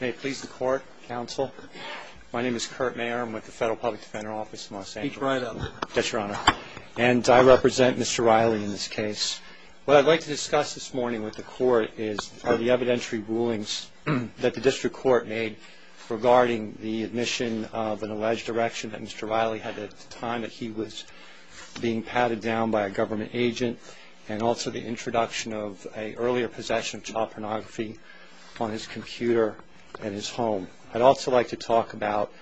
May it please the court, counsel. My name is Kurt Mayer. I'm with the Federal Public Defender Office in Los Angeles. Pete Ryan, then. Yes, Your Honor. And I represent Mr. Riley in this case. What I'd like to discuss this morning with the court are the evidentiary rulings that the district court made regarding the admission of an alleged erection that Mr. Riley had at the time that he was being patted down by a government agent and also the introduction of an earlier possession of child pornography on his computer at his home. I'd also like to talk about,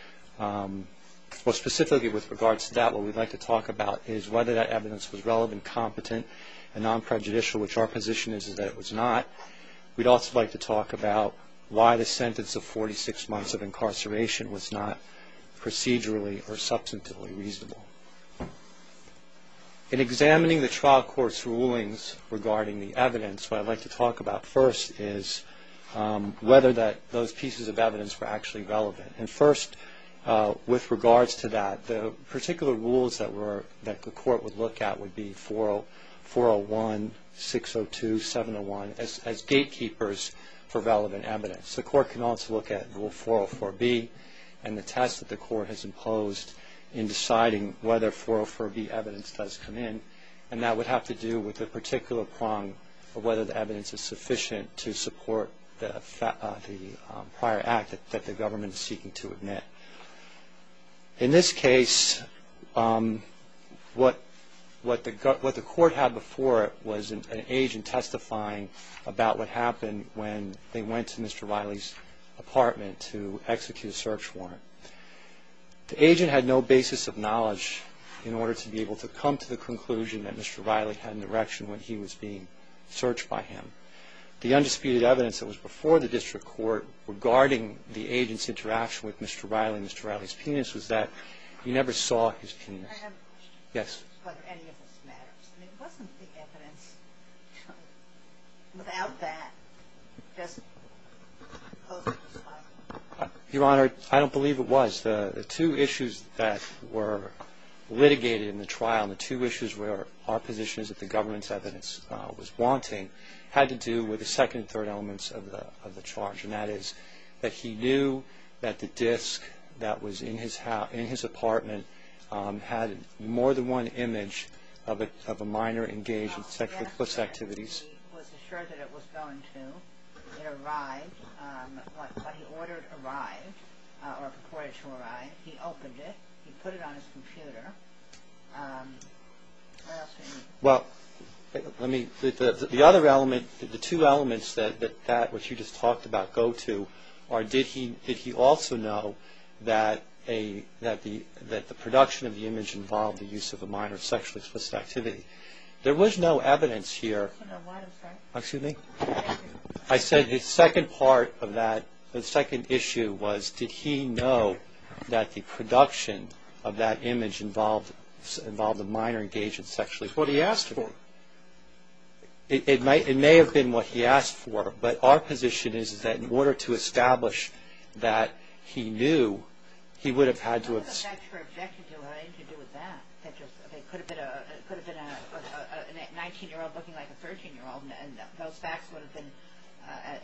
specifically with regards to that, what we'd like to talk about is whether that evidence was relevant, competent, and non-prejudicial, which our position is that it was not. We'd also like to talk about why the sentence of 46 months of incarceration was not procedurally or substantively reasonable. In examining the trial court's rulings regarding the evidence, what I'd like to talk about first is whether those pieces of evidence were actually relevant. And first, with regards to that, the particular rules that the court would look at would be 401, 602, 701, as gatekeepers for relevant evidence. The court can also look at rule 404B and the test that the court has imposed in deciding whether 404B evidence does come in, and that would have to do with the particular prong of whether the evidence is sufficient to support the prior act that the government is seeking to admit. In this case, what the court had before it was an agent testifying about what happened when they went to Mr. Riley's apartment to execute a search warrant. The agent had no basis of knowledge in order to be able to come to the conclusion that Mr. Riley had an erection when he was being searched by him. The undisputed evidence that was before the district court regarding the agent's interaction with Mr. Riley and Mr. Riley's penis was that he never saw his penis. I have a question. Yes. Whether any of this matters. I mean, wasn't the evidence without that just supposed to be silent? Your Honor, I don't believe it was. The two issues that were litigated in the trial, the two issues where our position is that the government's evidence was wanting, had to do with the second and third elements of the charge, and that is that he knew that the disk that was in his apartment had more than one image of a minor engaged in sexual abuse activities. He was assured that it was going to. It arrived. What he ordered arrived, or purported to arrive. He opened it. He put it on his computer. What else do you need? Well, let me, the other element, the two elements that that, what you just talked about, go to, are did he also know that the production of the image involved the use of a minor's sexual explicit activity? There was no evidence here. No, why is that? Excuse me? I said the second part of that, the second issue was, did he know that the production of that image involved a minor engaged in sexual... It's what he asked for. It may have been what he asked for, but our position is that in order to establish that he knew, he would have had to... It's not your objective. It had nothing to do with that. It could have been a 19-year-old looking like a 13-year-old, and those facts would have been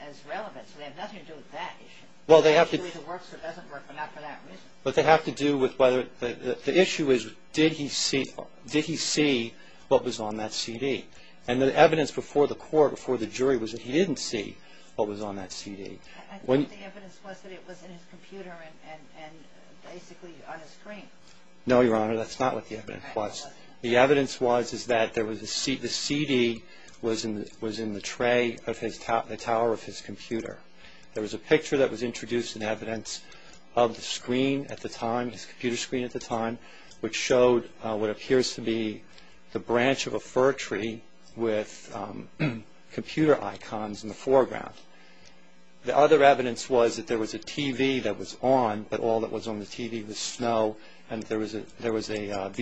as relevant. So they have nothing to do with that issue. Well, they have to... It works or doesn't work, but not for that reason. But they have to do with whether, the issue is, did he see, did he see what was on that CD? And the evidence before the court, before the jury, was that he didn't see what was on that CD. I thought the evidence was that it was in his computer and basically on his screen. No, Your Honor, that's not what the evidence was. The evidence was that the CD was in the tray of the tower of his computer. There was a picture that was introduced in evidence of the screen at the time, his computer screen at the time, which showed what appears to be the branch of a fir tree with computer icons in the foreground. The other evidence was that there was a TV that was on, but all that was on the TV was snow, and there was a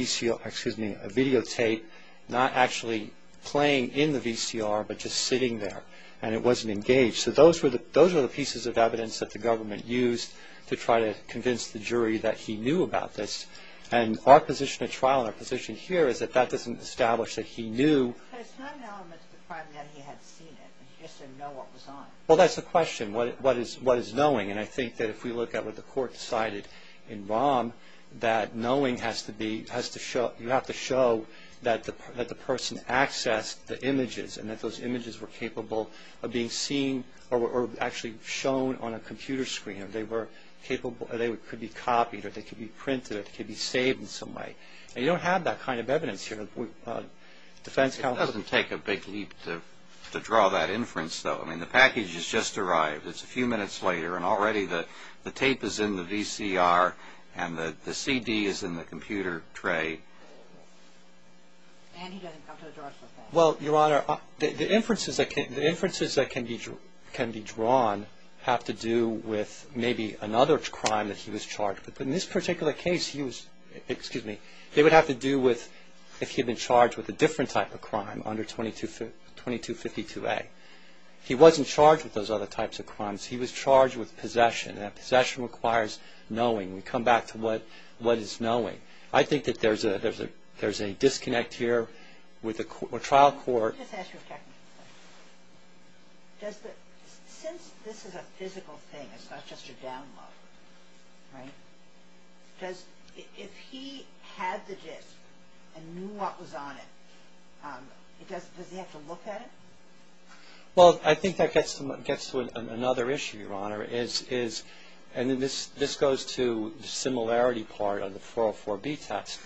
video tape not actually playing in the VCR but just sitting there, and it wasn't engaged. So those were the pieces of evidence that the government used to try to convince the jury that he knew about this. And our position at trial and our position here is that that doesn't establish that he knew. But it's not an element of the crime that he had seen it. He just didn't know what was on it. Well, that's the question. What is knowing? And I think that if we look at what the court decided in Baum, that knowing has to be, you have to show that the person accessed the images and that those images were capable of being seen or were actually shown on a computer screen. They could be copied or they could be printed or they could be saved in some way. And you don't have that kind of evidence here. It doesn't take a big leap to draw that inference, though. I mean, the package has just arrived. It's a few minutes later, and already the tape is in the VCR and the CD is in the computer tray. And he doesn't come to a judgment. Well, Your Honor, the inferences that can be drawn have to do with maybe another crime that he was charged with. But in this particular case, he was, excuse me, they would have to do with if he had been charged with a different type of crime under 2252A. He wasn't charged with those other types of crimes. He was charged with possession, and possession requires knowing. We come back to what is knowing. I think that there's a disconnect here with a trial court. Let me just ask you a technical question. Since this is a physical thing, it's not just a download, right? If he had the disc and knew what was on it, does he have to look at it? Well, I think that gets to another issue, Your Honor. And this goes to the similarity part of the 404B test.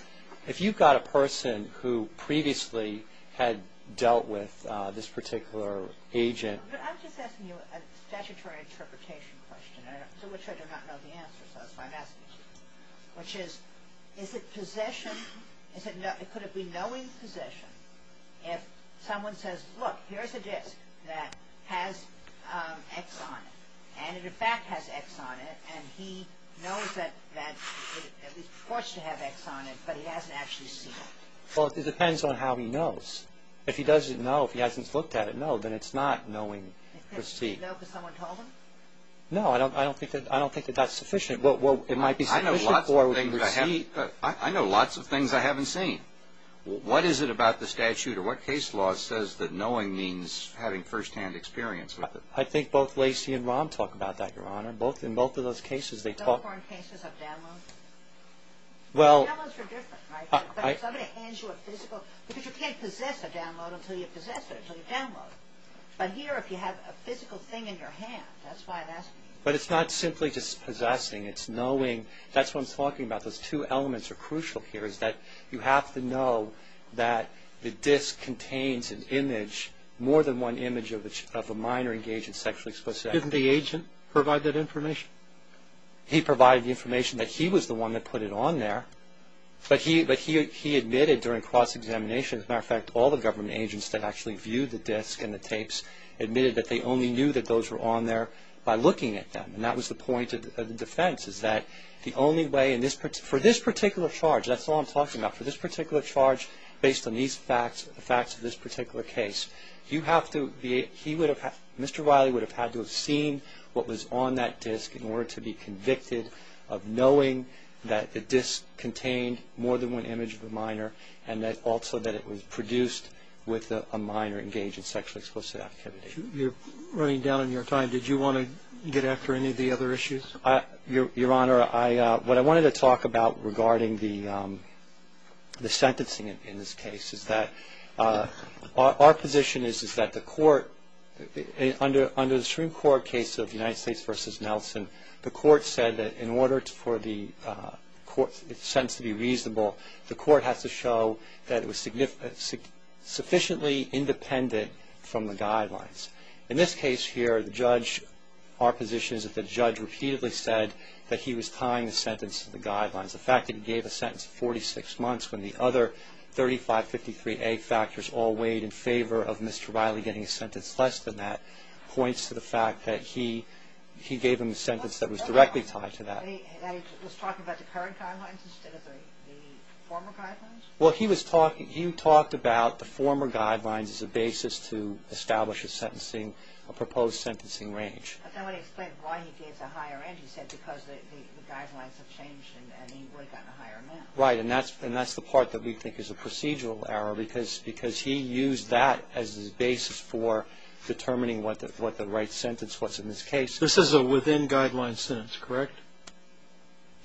If you've got a person who previously had dealt with this particular agent. I'm just asking you a statutory interpretation question, to which I do not know the answer. So that's why I'm asking you, which is, is it possession? Could it be knowing possession if someone says, look, here's a disc that has X on it, and it, in fact, has X on it, and he knows that it at least reports to have X on it, but he hasn't actually seen it? Well, it depends on how he knows. If he doesn't know, if he hasn't looked at it, no, then it's not knowing receipt. Does he know because someone told him? No, I don't think that that's sufficient. Well, it might be sufficient for receipt. I know lots of things I haven't seen. What is it about the statute or what case law says that knowing means having firsthand experience with it? I think both Lacey and Rahm talk about that, Your Honor. In both of those cases, they talk – Is that for in cases of downloads? Well – Downloads are different, right? If somebody hands you a physical – because you can't possess a download until you possess it, until you download it. But here, if you have a physical thing in your hand, that's why that's – But it's not simply just possessing. It's knowing – that's what I'm talking about. Those two elements are crucial here, is that you have to know that the disc contains an image, more than one image of a minor engaged in sexually explicit actions. Didn't the agent provide that information? He provided the information that he was the one that put it on there. But he admitted during cross-examination, as a matter of fact, all the government agents that actually viewed the disc and the tapes admitted that they only knew that those were on there by looking at them. And that was the point of the defense, is that the only way – for this particular charge, that's all I'm talking about. For this particular charge, based on these facts, the facts of this particular case, you have to – he would have – Mr. Riley would have had to have seen what was on that disc in order to be convicted of knowing that the disc contained more than one image of a minor and also that it was produced with a minor engaged in sexually explicit activity. You're running down on your time. Did you want to get after any of the other issues? Your Honor, I – what I wanted to talk about regarding the sentencing in this case is that our position is that the court – under the Supreme Court case of United States v. Nelson, the court said that in order for the court – the sentence to be reasonable, the court has to show that it was sufficiently independent from the guidelines. In this case here, the judge – our position is that the judge repeatedly said that he was tying the sentence to the guidelines. The fact that he gave a sentence of 46 months when the other 3553A factors all weighed in favor of Mr. Riley getting a sentence less than that points to the fact that he gave him a sentence that was directly tied to that. Was he talking about the current guidelines instead of the former guidelines? Well, he was talking – he talked about the former guidelines as a basis to establish a sentencing – a proposed sentencing range. Right, and that's the part that we think is a procedural error because he used that as his basis for determining what the right sentence was in this case. This is a within-guidelines sentence, correct?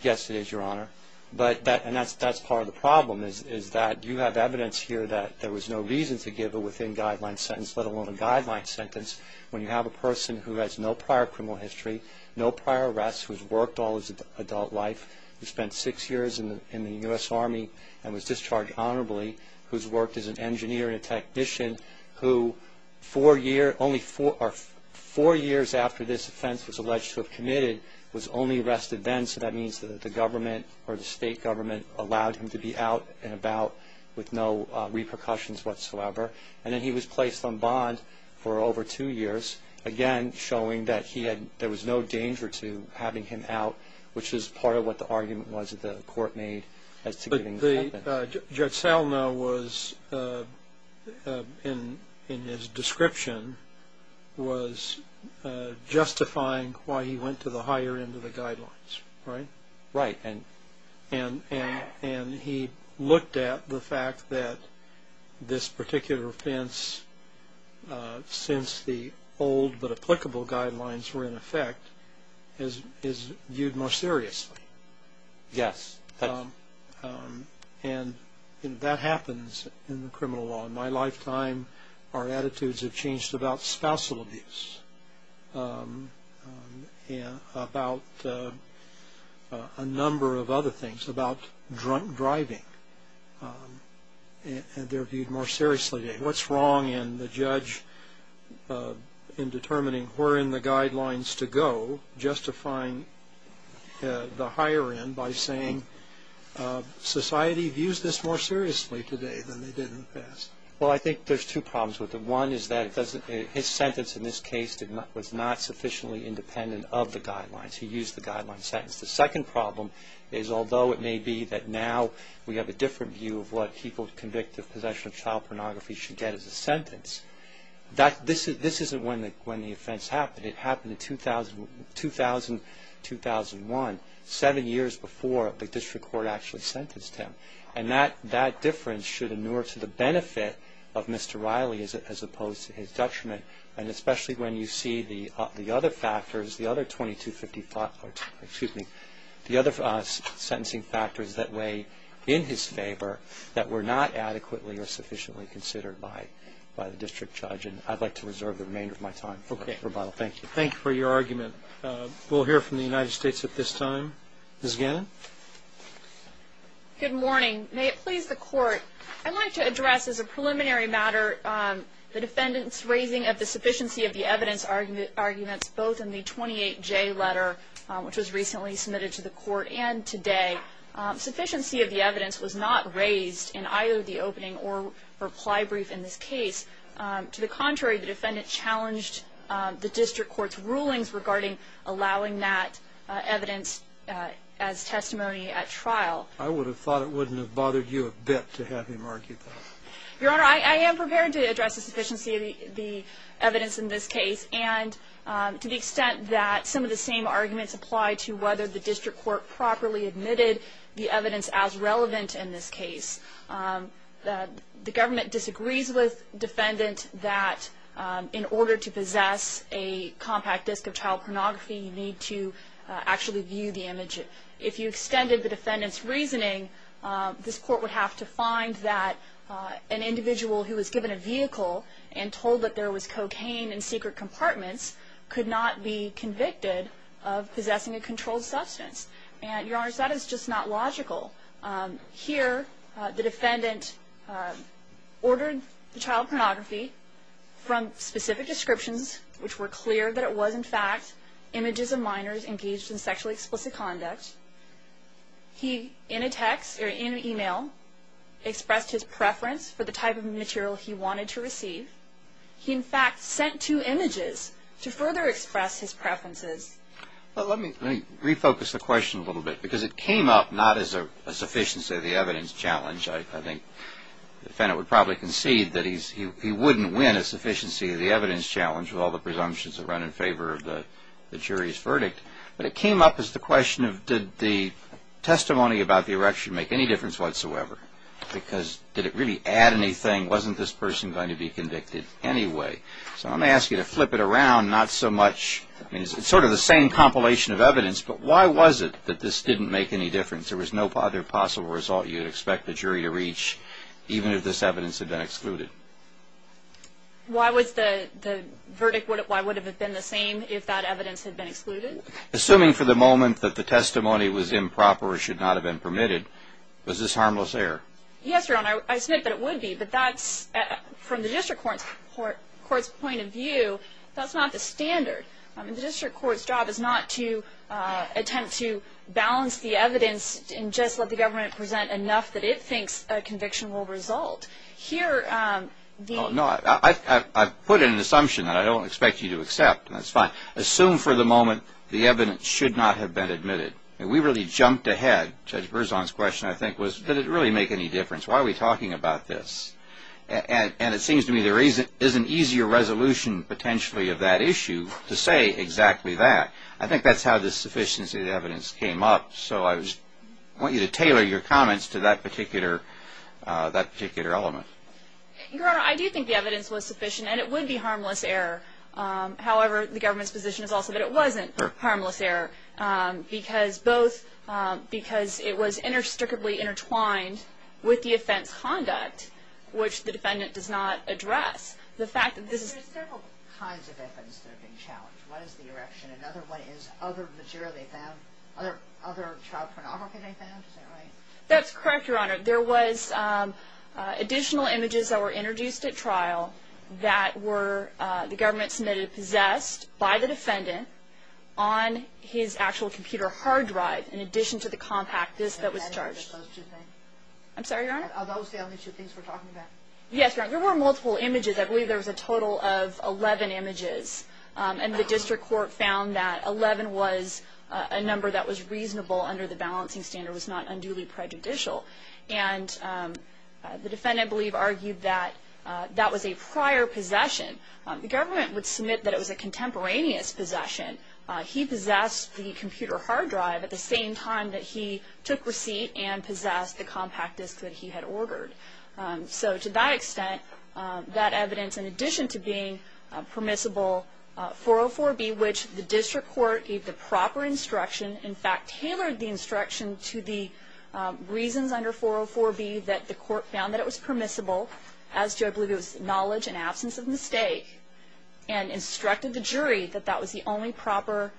Yes, it is, Your Honor. But that – and that's part of the problem is that you have evidence here that there was no reason to give a within-guidelines sentence, let alone a guidelines sentence, when you have a person who has no prior criminal history, no prior arrests, who's worked all his adult life, who spent six years in the U.S. Army and was discharged honorably, who's worked as an engineer and a technician, who four year – only four – or four years after this offense was alleged to have committed was only arrested then, so that means that the government or the state government allowed him to be out and about with no repercussions whatsoever. And then he was placed on bond for over two years, again showing that he had – there was no danger to having him out, which is part of what the argument was that the court made as to giving the sentence. Judge Salno was, in his description, was justifying why he went to the higher end of the guidelines, right? Right. And he looked at the fact that this particular offense, since the old but applicable guidelines were in effect, is viewed more seriously. Yes. And that happens in the criminal law. In my lifetime, our attitudes have changed about spousal abuse, about a number of other things, about drunk driving, and they're viewed more seriously. What's wrong in the judge in determining where in the guidelines to go, justifying the higher end by saying society views this more seriously today than they did in the past? Well, I think there's two problems with it. One is that his sentence in this case was not sufficiently independent of the guidelines. He used the guideline sentence. The second problem is, although it may be that now we have a different view of what people convict of possession of child pornography should get as a sentence, this isn't when the offense happened. It happened in 2000, 2001, seven years before the district court actually sentenced him. And that difference should inure to the benefit of Mr. Riley as opposed to his judgment, and especially when you see the other factors, the other 2255, excuse me, the other sentencing factors that weigh in his favor that were not adequately or sufficiently considered by the district judge. And I'd like to reserve the remainder of my time for rebuttal. Thank you. Thank you for your argument. We'll hear from the United States at this time. Ms. Gannon? Good morning. May it please the Court, I'd like to address as a preliminary matter the defendant's raising of the sufficiency of the evidence arguments both in the 28J letter, which was recently submitted to the Court and today. Sufficiency of the evidence was not raised in either the opening or reply brief in this case. To the contrary, the defendant challenged the district court's rulings regarding allowing that evidence as testimony at trial. I would have thought it wouldn't have bothered you a bit to have him argue that. Your Honor, I am prepared to address the sufficiency of the evidence in this case, and to the extent that some of the same arguments apply to whether the district court properly admitted the evidence as relevant in this case. The government disagrees with the defendant that in order to possess a compact disc of child pornography, you need to actually view the image. If you extended the defendant's reasoning, this Court would have to find that an individual who was given a vehicle and told that there was cocaine in secret compartments could not be convicted of possessing a controlled substance. And, Your Honor, that is just not logical. Here, the defendant ordered the child pornography from specific descriptions, which were clear that it was, in fact, images of minors engaged in sexually explicit conduct. He, in a text or in an email, expressed his preference for the type of material he wanted to receive. He, in fact, sent two images to further express his preferences. Well, let me refocus the question a little bit, because it came up not as a sufficiency of the evidence challenge. I think the defendant would probably concede that he wouldn't win a sufficiency of the evidence challenge with all the presumptions that run in favor of the jury's verdict. But it came up as the question of did the testimony about the erection make any difference whatsoever? Because did it really add anything? Wasn't this person going to be convicted anyway? So I'm going to ask you to flip it around, not so much. I mean, it's sort of the same compilation of evidence, but why was it that this didn't make any difference? There was no other possible result you'd expect the jury to reach, even if this evidence had been excluded. Why would the verdict have been the same if that evidence had been excluded? Assuming for the moment that the testimony was improper or should not have been permitted, was this harmless error? Yes, Your Honor. I submit that it would be, but that's from the district court's point of view. That's not the standard. The district court's job is not to attempt to balance the evidence and just let the government present enough that it thinks a conviction will result. No, I've put in an assumption that I don't expect you to accept, and that's fine. Assume for the moment the evidence should not have been admitted. We really jumped ahead. Judge Berzon's question, I think, was did it really make any difference? Why are we talking about this? And it seems to me there is an easier resolution potentially of that issue to say exactly that. I think that's how the sufficiency of the evidence came up, so I want you to tailor your comments to that particular element. Your Honor, I do think the evidence was sufficient, and it would be harmless error. However, the government's position is also that it wasn't harmless error, because it was inextricably intertwined with the offense conduct, which the defendant does not address. There are several kinds of offenses that have been challenged. One is the erection. Another one is other material they found, other child pornography they found. Is that right? That's correct, Your Honor. There was additional images that were introduced at trial that the government submitted possessed by the defendant on his actual computer hard drive, in addition to the compact disc that was charged. I'm sorry, Your Honor? Are those the only two things we're talking about? Yes, Your Honor. There were multiple images. I believe there was a total of 11 images, and the district court found that 11 was a number that was reasonable under the balancing standard, was not unduly prejudicial. And the defendant, I believe, argued that that was a prior possession. The government would submit that it was a contemporaneous possession. He possessed the computer hard drive at the same time that he took receipt and possessed the compact disc that he had ordered. So to that extent, that evidence, in addition to being permissible 404B, which the district court gave the proper instruction, in fact, tailored the instruction to the reasons under 404B that the court found that it was permissible, as do I believe it was knowledge and absence of mistake, and instructed the jury that that was the only proper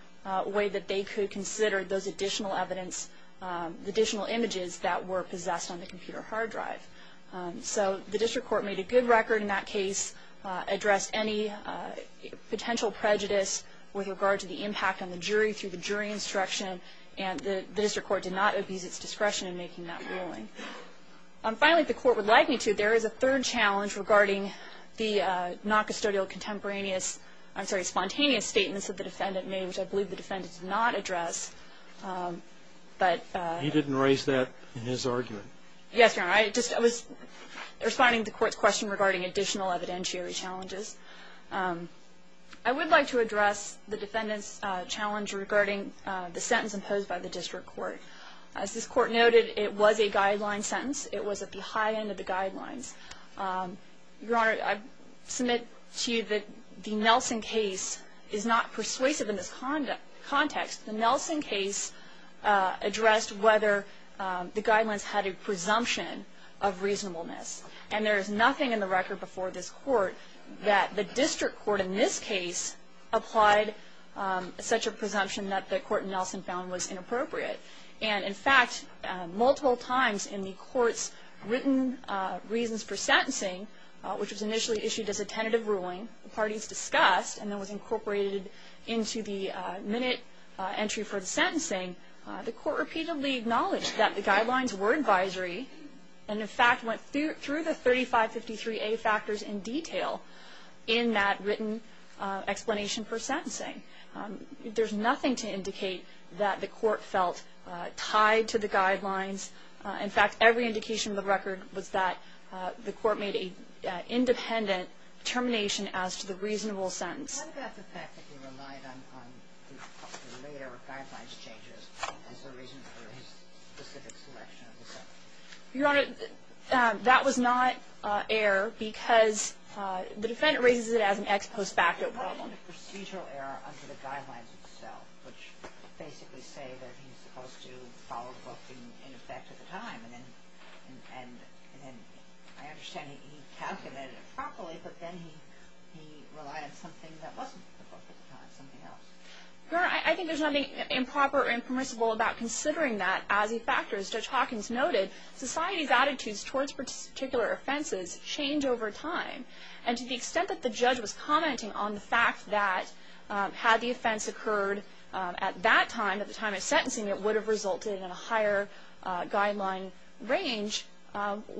way that they could consider those additional evidence, the additional images that were possessed on the computer hard drive. So the district court made a good record in that case, addressed any potential prejudice with regard to the impact on the jury through the jury instruction, and the district court did not abuse its discretion in making that ruling. Finally, if the court would like me to, there is a third challenge regarding the noncustodial contemporaneous, I'm sorry, spontaneous statements that the defendant made, which I believe the defendant did not address. But he didn't raise that in his argument. Yes, Your Honor. I was responding to the court's question regarding additional evidentiary challenges. I would like to address the defendant's challenge regarding the sentence imposed by the district court. As this court noted, it was a guideline sentence. It was at the high end of the guidelines. Your Honor, I submit to you that the Nelson case is not persuasive in this context. The Nelson case addressed whether the guidelines had a presumption of reasonableness. And there is nothing in the record before this court that the district court in this case applied such a presumption that the court in Nelson found was inappropriate. And, in fact, multiple times in the court's written reasons for sentencing, which was initially issued as a tentative ruling, the parties discussed and that was incorporated into the minute entry for the sentencing, the court repeatedly acknowledged that the guidelines were advisory and, in fact, went through the 3553A factors in detail in that written explanation for sentencing. There's nothing to indicate that the court felt tied to the guidelines. In fact, every indication of the record was that the court made an independent determination as to the reasonable sentence. What about the fact that he relied on the later guidelines changes as a reason for his specific selection of the sentence? Your Honor, that was not error because the defendant raises it as an ex post facto problem. There's a little bit of procedural error under the guidelines itself, which basically say that he's supposed to follow the book in effect at the time. And I understand he calculated it properly, but then he relied on something that wasn't the book at the time, something else. Your Honor, I think there's nothing improper or impermissible about considering that as he factors. Judge Hawkins noted society's attitudes towards particular offenses change over time. And to the extent that the judge was commenting on the fact that had the offense occurred at that time, at the time of sentencing, it would have resulted in a higher guideline range,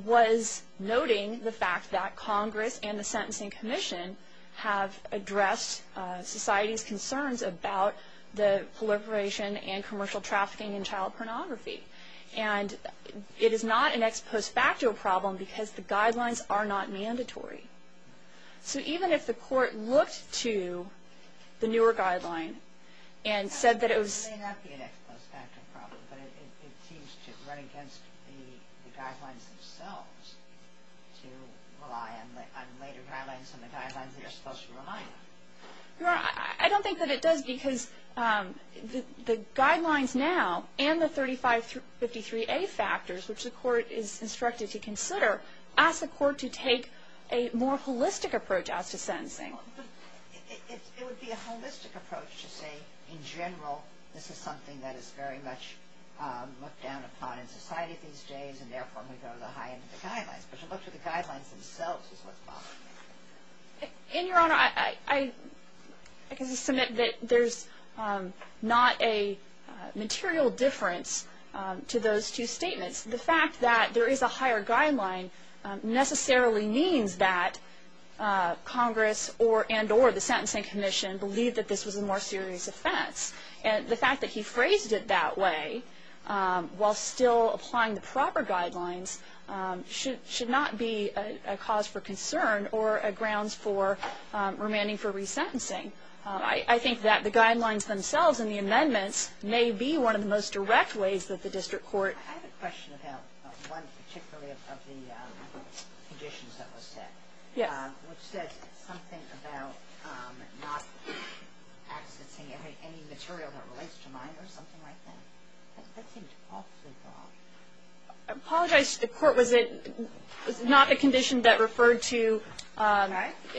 was noting the fact that Congress and the Sentencing Commission have addressed society's concerns about the proliferation and commercial trafficking in child pornography. And it is not an ex post facto problem because the guidelines are not mandatory. So even if the court looked to the newer guideline and said that it was... It may not be an ex post facto problem, but it seems to run against the guidelines themselves to rely on later guidelines and the guidelines that are supposed to remind them. Your Honor, I don't think that it does because the guidelines now and the 3553A factors, which the court is instructed to consider, ask the court to take a more holistic approach as to sentencing. It would be a holistic approach to say, in general, this is something that is very much looked down upon in society these days, and therefore we go to the high end of the guidelines. But to look to the guidelines themselves is what's bothering me. And, Your Honor, I can submit that there's not a material difference to those two statements. The fact that there is a higher guideline necessarily means that Congress and or the Sentencing Commission believe that this was a more serious offense. And the fact that he phrased it that way while still applying the proper guidelines should not be a cause for concern or a grounds for remanding for resentencing. I think that the guidelines themselves and the amendments may be one of the most direct ways that the district court... I have a question about one particularly of the conditions that were set. Yes. Which said something about not accessing any material that relates to mine or something like that. That seemed awfully broad. I apologize to the court. Was it not the condition that referred to...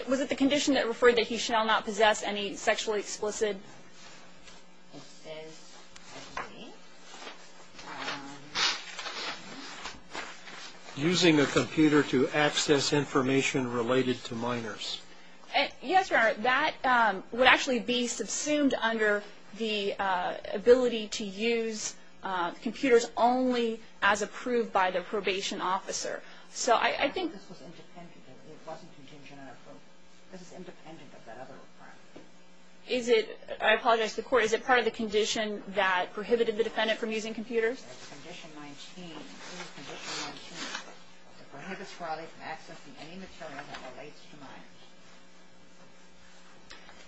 Was it the condition that referred that he shall not possess any sexually explicit... Using a computer to access information related to miners. Yes, Your Honor. That would actually be subsumed under the ability to use computers only as approved by the probation officer. So I think... I apologize to the court. Is it part of the condition that prohibited the defendant from using computers?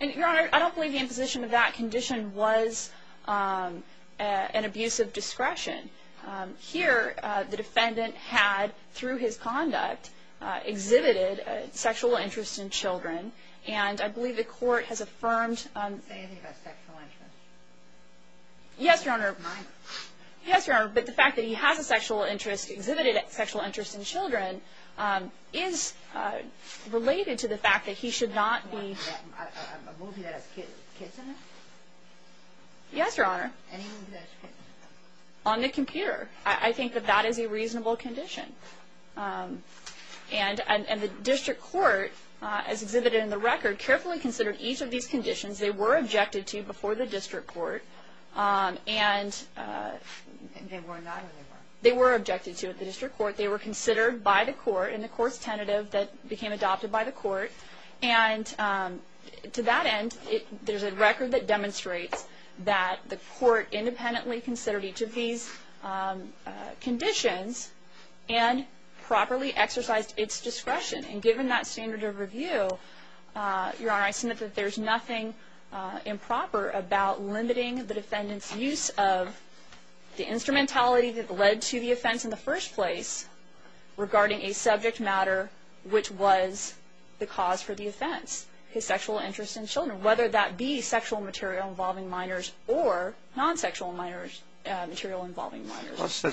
Your Honor, I don't believe the imposition of that condition was an abuse of discretion. Here, the defendant had, through his conduct, exhibited sexual interest in children. And I believe the court has affirmed... Say anything about sexual interest. Yes, Your Honor. Mine. Yes, Your Honor. But the fact that he has a sexual interest, exhibited sexual interest in children, is related to the fact that he should not be... Yes, Your Honor. On the computer. I think that that is a reasonable condition. And the district court, as exhibited in the record, carefully considered each of these conditions. They were objected to before the district court. And... They were not. They were objected to at the district court. They were considered by the court in the court's tentative that became adopted by the court. And to that end, there's a record that demonstrates that the court independently considered each of these conditions and properly exercised its discretion. And given that standard of review, Your Honor, I submit that there's nothing improper about limiting the defendant's use of the instrumentality that led to the offense in the first place regarding a subject matter which was the cause for the offense. His sexual interest in children. Whether that be sexual material involving minors or non-sexual material involving minors.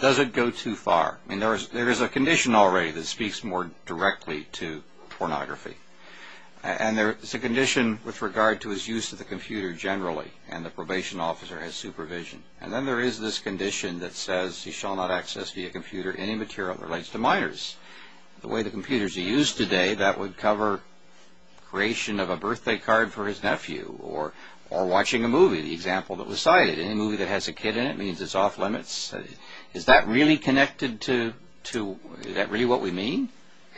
Does it go too far? I mean, there is a condition already that speaks more directly to pornography. And there is a condition with regard to his use of the computer generally. And the probation officer has supervision. And then there is this condition that says he shall not access via computer any material that relates to minors. The way the computer is used today, that would cover creation of a birthday card for his nephew. Or watching a movie, the example that was cited. Any movie that has a kid in it means it's off limits. Is that really connected to... Is that really what we mean?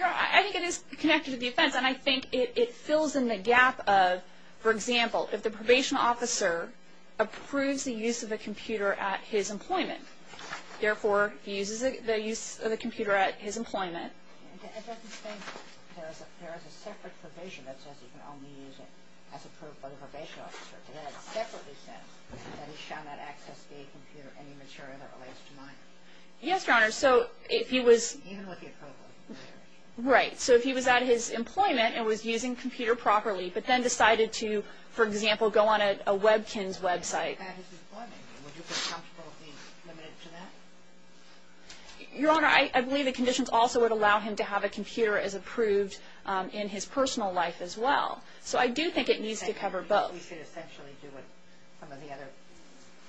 I think it is connected to the offense. And I think it fills in the gap of, for example, if the probation officer approves the use of a computer at his employment. Therefore, he uses the use of the computer at his employment. It doesn't say there is a separate provision that says he can only use it as approved by the probation officer. It has separately said that he shall not access via computer any material that relates to minors. Yes, Your Honor. So if he was... Even with the approval. Right. So if he was at his employment and was using a computer properly, but then decided to, for example, go on a Webkinz website. Would you be comfortable being limited to that? Your Honor, I believe the conditions also would allow him to have a computer as approved in his personal life as well. So I do think it needs to cover both. But we should essentially do what some of the other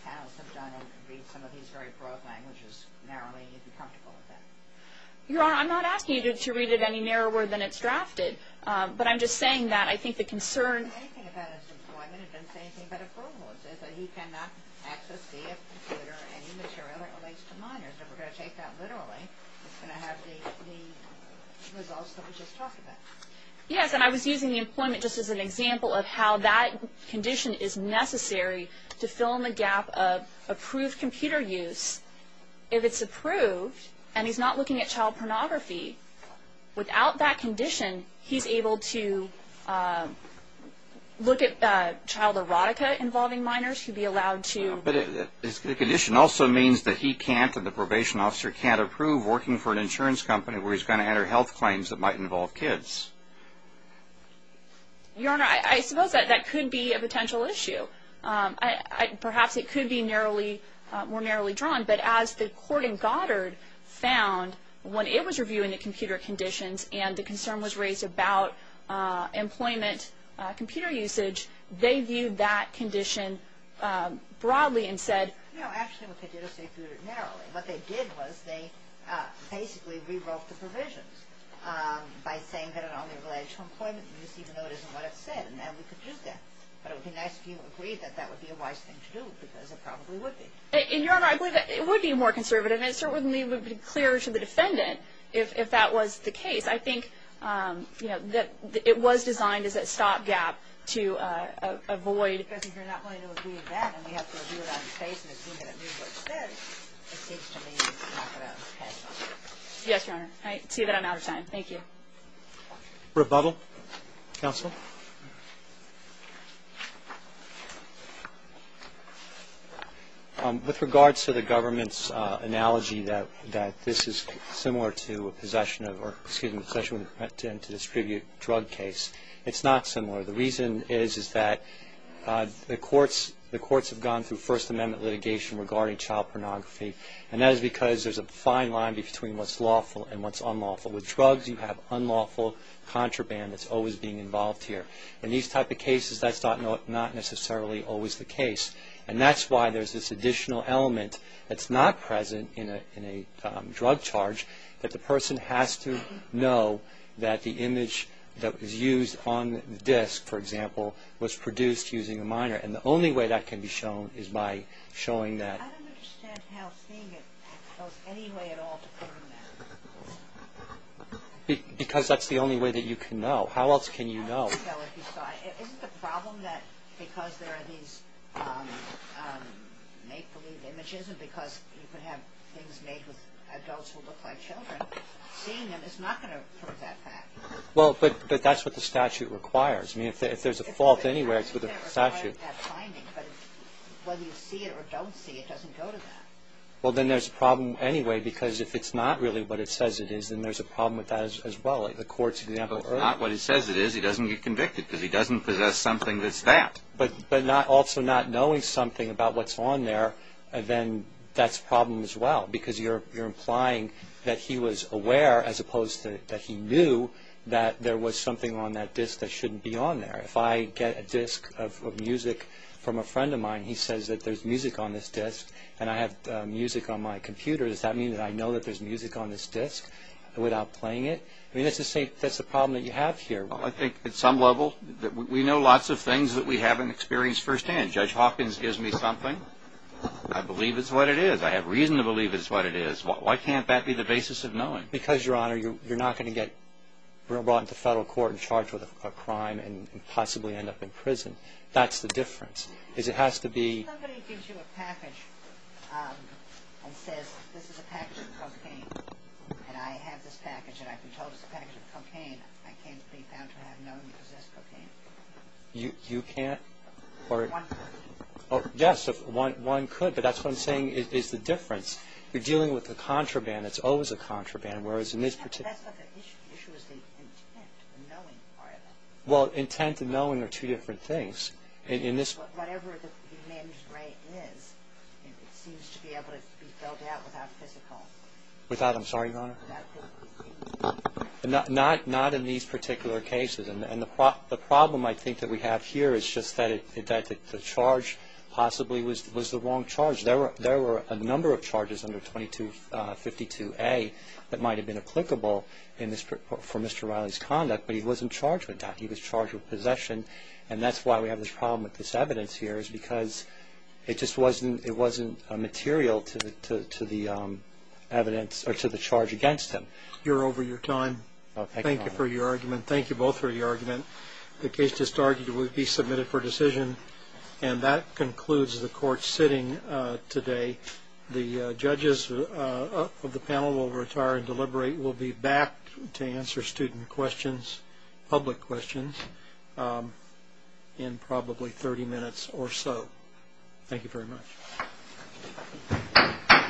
panels have done and read some of these very broad languages narrowly. You'd be comfortable with that. Your Honor, I'm not asking you to read it any narrower than it's drafted. But I'm just saying that I think the concern... It doesn't say anything about his employment. It doesn't say anything about approvals. It says that he cannot access via computer any material that relates to minors. If we're going to take that literally, it's going to have the results that we just talked about. Yes. And I was using the employment just as an example of how that condition is necessary to fill in the gap of approved computer use. If it's approved and he's not looking at child pornography, without that condition, he's able to look at child erotica involving minors. He'd be allowed to... But the condition also means that he can't and the probation officer can't approve working for an insurance company where he's going to enter health claims that might involve kids. Your Honor, I suppose that could be a potential issue. Perhaps it could be more narrowly drawn, but as the court in Goddard found when it was reviewing the computer conditions and the concern was raised about employment computer usage, they viewed that condition broadly and said... No, actually what they did was they did it narrowly. What they did was they basically rewrote the provisions by saying that it only relates to employment use, even though it isn't what it said, and that we could use that. But it would be nice if you agreed that that would be a wise thing to do because it probably would be. And, Your Honor, I believe that it would be more conservative and it certainly would be clearer to the defendant if that was the case. I think that it was designed as a stopgap to avoid... Yes, Your Honor. I see that I'm out of time. Thank you. Rebuttal? Counsel? With regards to the government's analogy that this is similar to a possession of... or, excuse me, a possession with intent to distribute drug case, it's not similar. The reason is that the courts have gone through First Amendment litigation regarding child pornography and that is because there's a fine line between what's lawful and what's unlawful. With drugs, you have unlawful contraband that's always being involved here. In these type of cases, that's not necessarily always the case, and that's why there's this additional element that's not present in a drug charge that the person has to know that the image that was used on the disk, for example, was produced using a minor, and the only way that can be shown is by showing that... I don't understand how seeing it goes any way at all to prove that. Because that's the only way that you can know. How else can you know? I don't know if you saw it. Isn't the problem that because there are these make-believe images and because you can have things made with adults who look like children, seeing them is not going to prove that fact. Well, but that's what the statute requires. Whether you see it or don't see it doesn't go to that. Well, then there's a problem anyway because if it's not really what it says it is, then there's a problem with that as well. If it's not what it says it is, he doesn't get convicted because he doesn't possess something that's that. But also not knowing something about what's on there, then that's a problem as well because you're implying that he was aware as opposed to that he knew that there was something on that disk that shouldn't be on there. If I get a disk of music from a friend of mine, he says that there's music on this disk and I have music on my computer. Does that mean that I know that there's music on this disk without playing it? I mean, that's the problem that you have here. Well, I think at some level we know lots of things that we haven't experienced firsthand. Judge Hawkins gives me something. I believe it's what it is. I have reason to believe it's what it is. Why can't that be the basis of knowing? Because, Your Honor, you're not going to get brought into federal court and charged with a crime and possibly end up in prison. That's the difference. Somebody gives you a package and says this is a package of cocaine and I have this package and I've been told it's a package of cocaine. I can't be found to have known to possess cocaine. You can't? One could. Yes, one could. But that's what I'm saying is the difference. You're dealing with a contraband. It's always a contraband. But that's not the issue. The issue is the intent, the knowing part of it. Well, intent and knowing are two different things. Whatever the managed rate is, it seems to be able to be filled out without physical. Without, I'm sorry, Your Honor? Without physical. Not in these particular cases. And the problem I think that we have here is just that the charge possibly was the wrong charge. There were a number of charges under 2252A that might have been applicable for Mr. Riley's conduct, but he wasn't charged with that. He was charged with possession. And that's why we have this problem with this evidence here is because it just wasn't material to the evidence or to the charge against him. You're over your time. Thank you for your argument. Thank you both for your argument. The case just argued it would be submitted for decision. And that concludes the court sitting today. The judges of the panel will retire and deliberate. We'll be back to answer student questions, public questions, in probably 30 minutes or so. Thank you very much.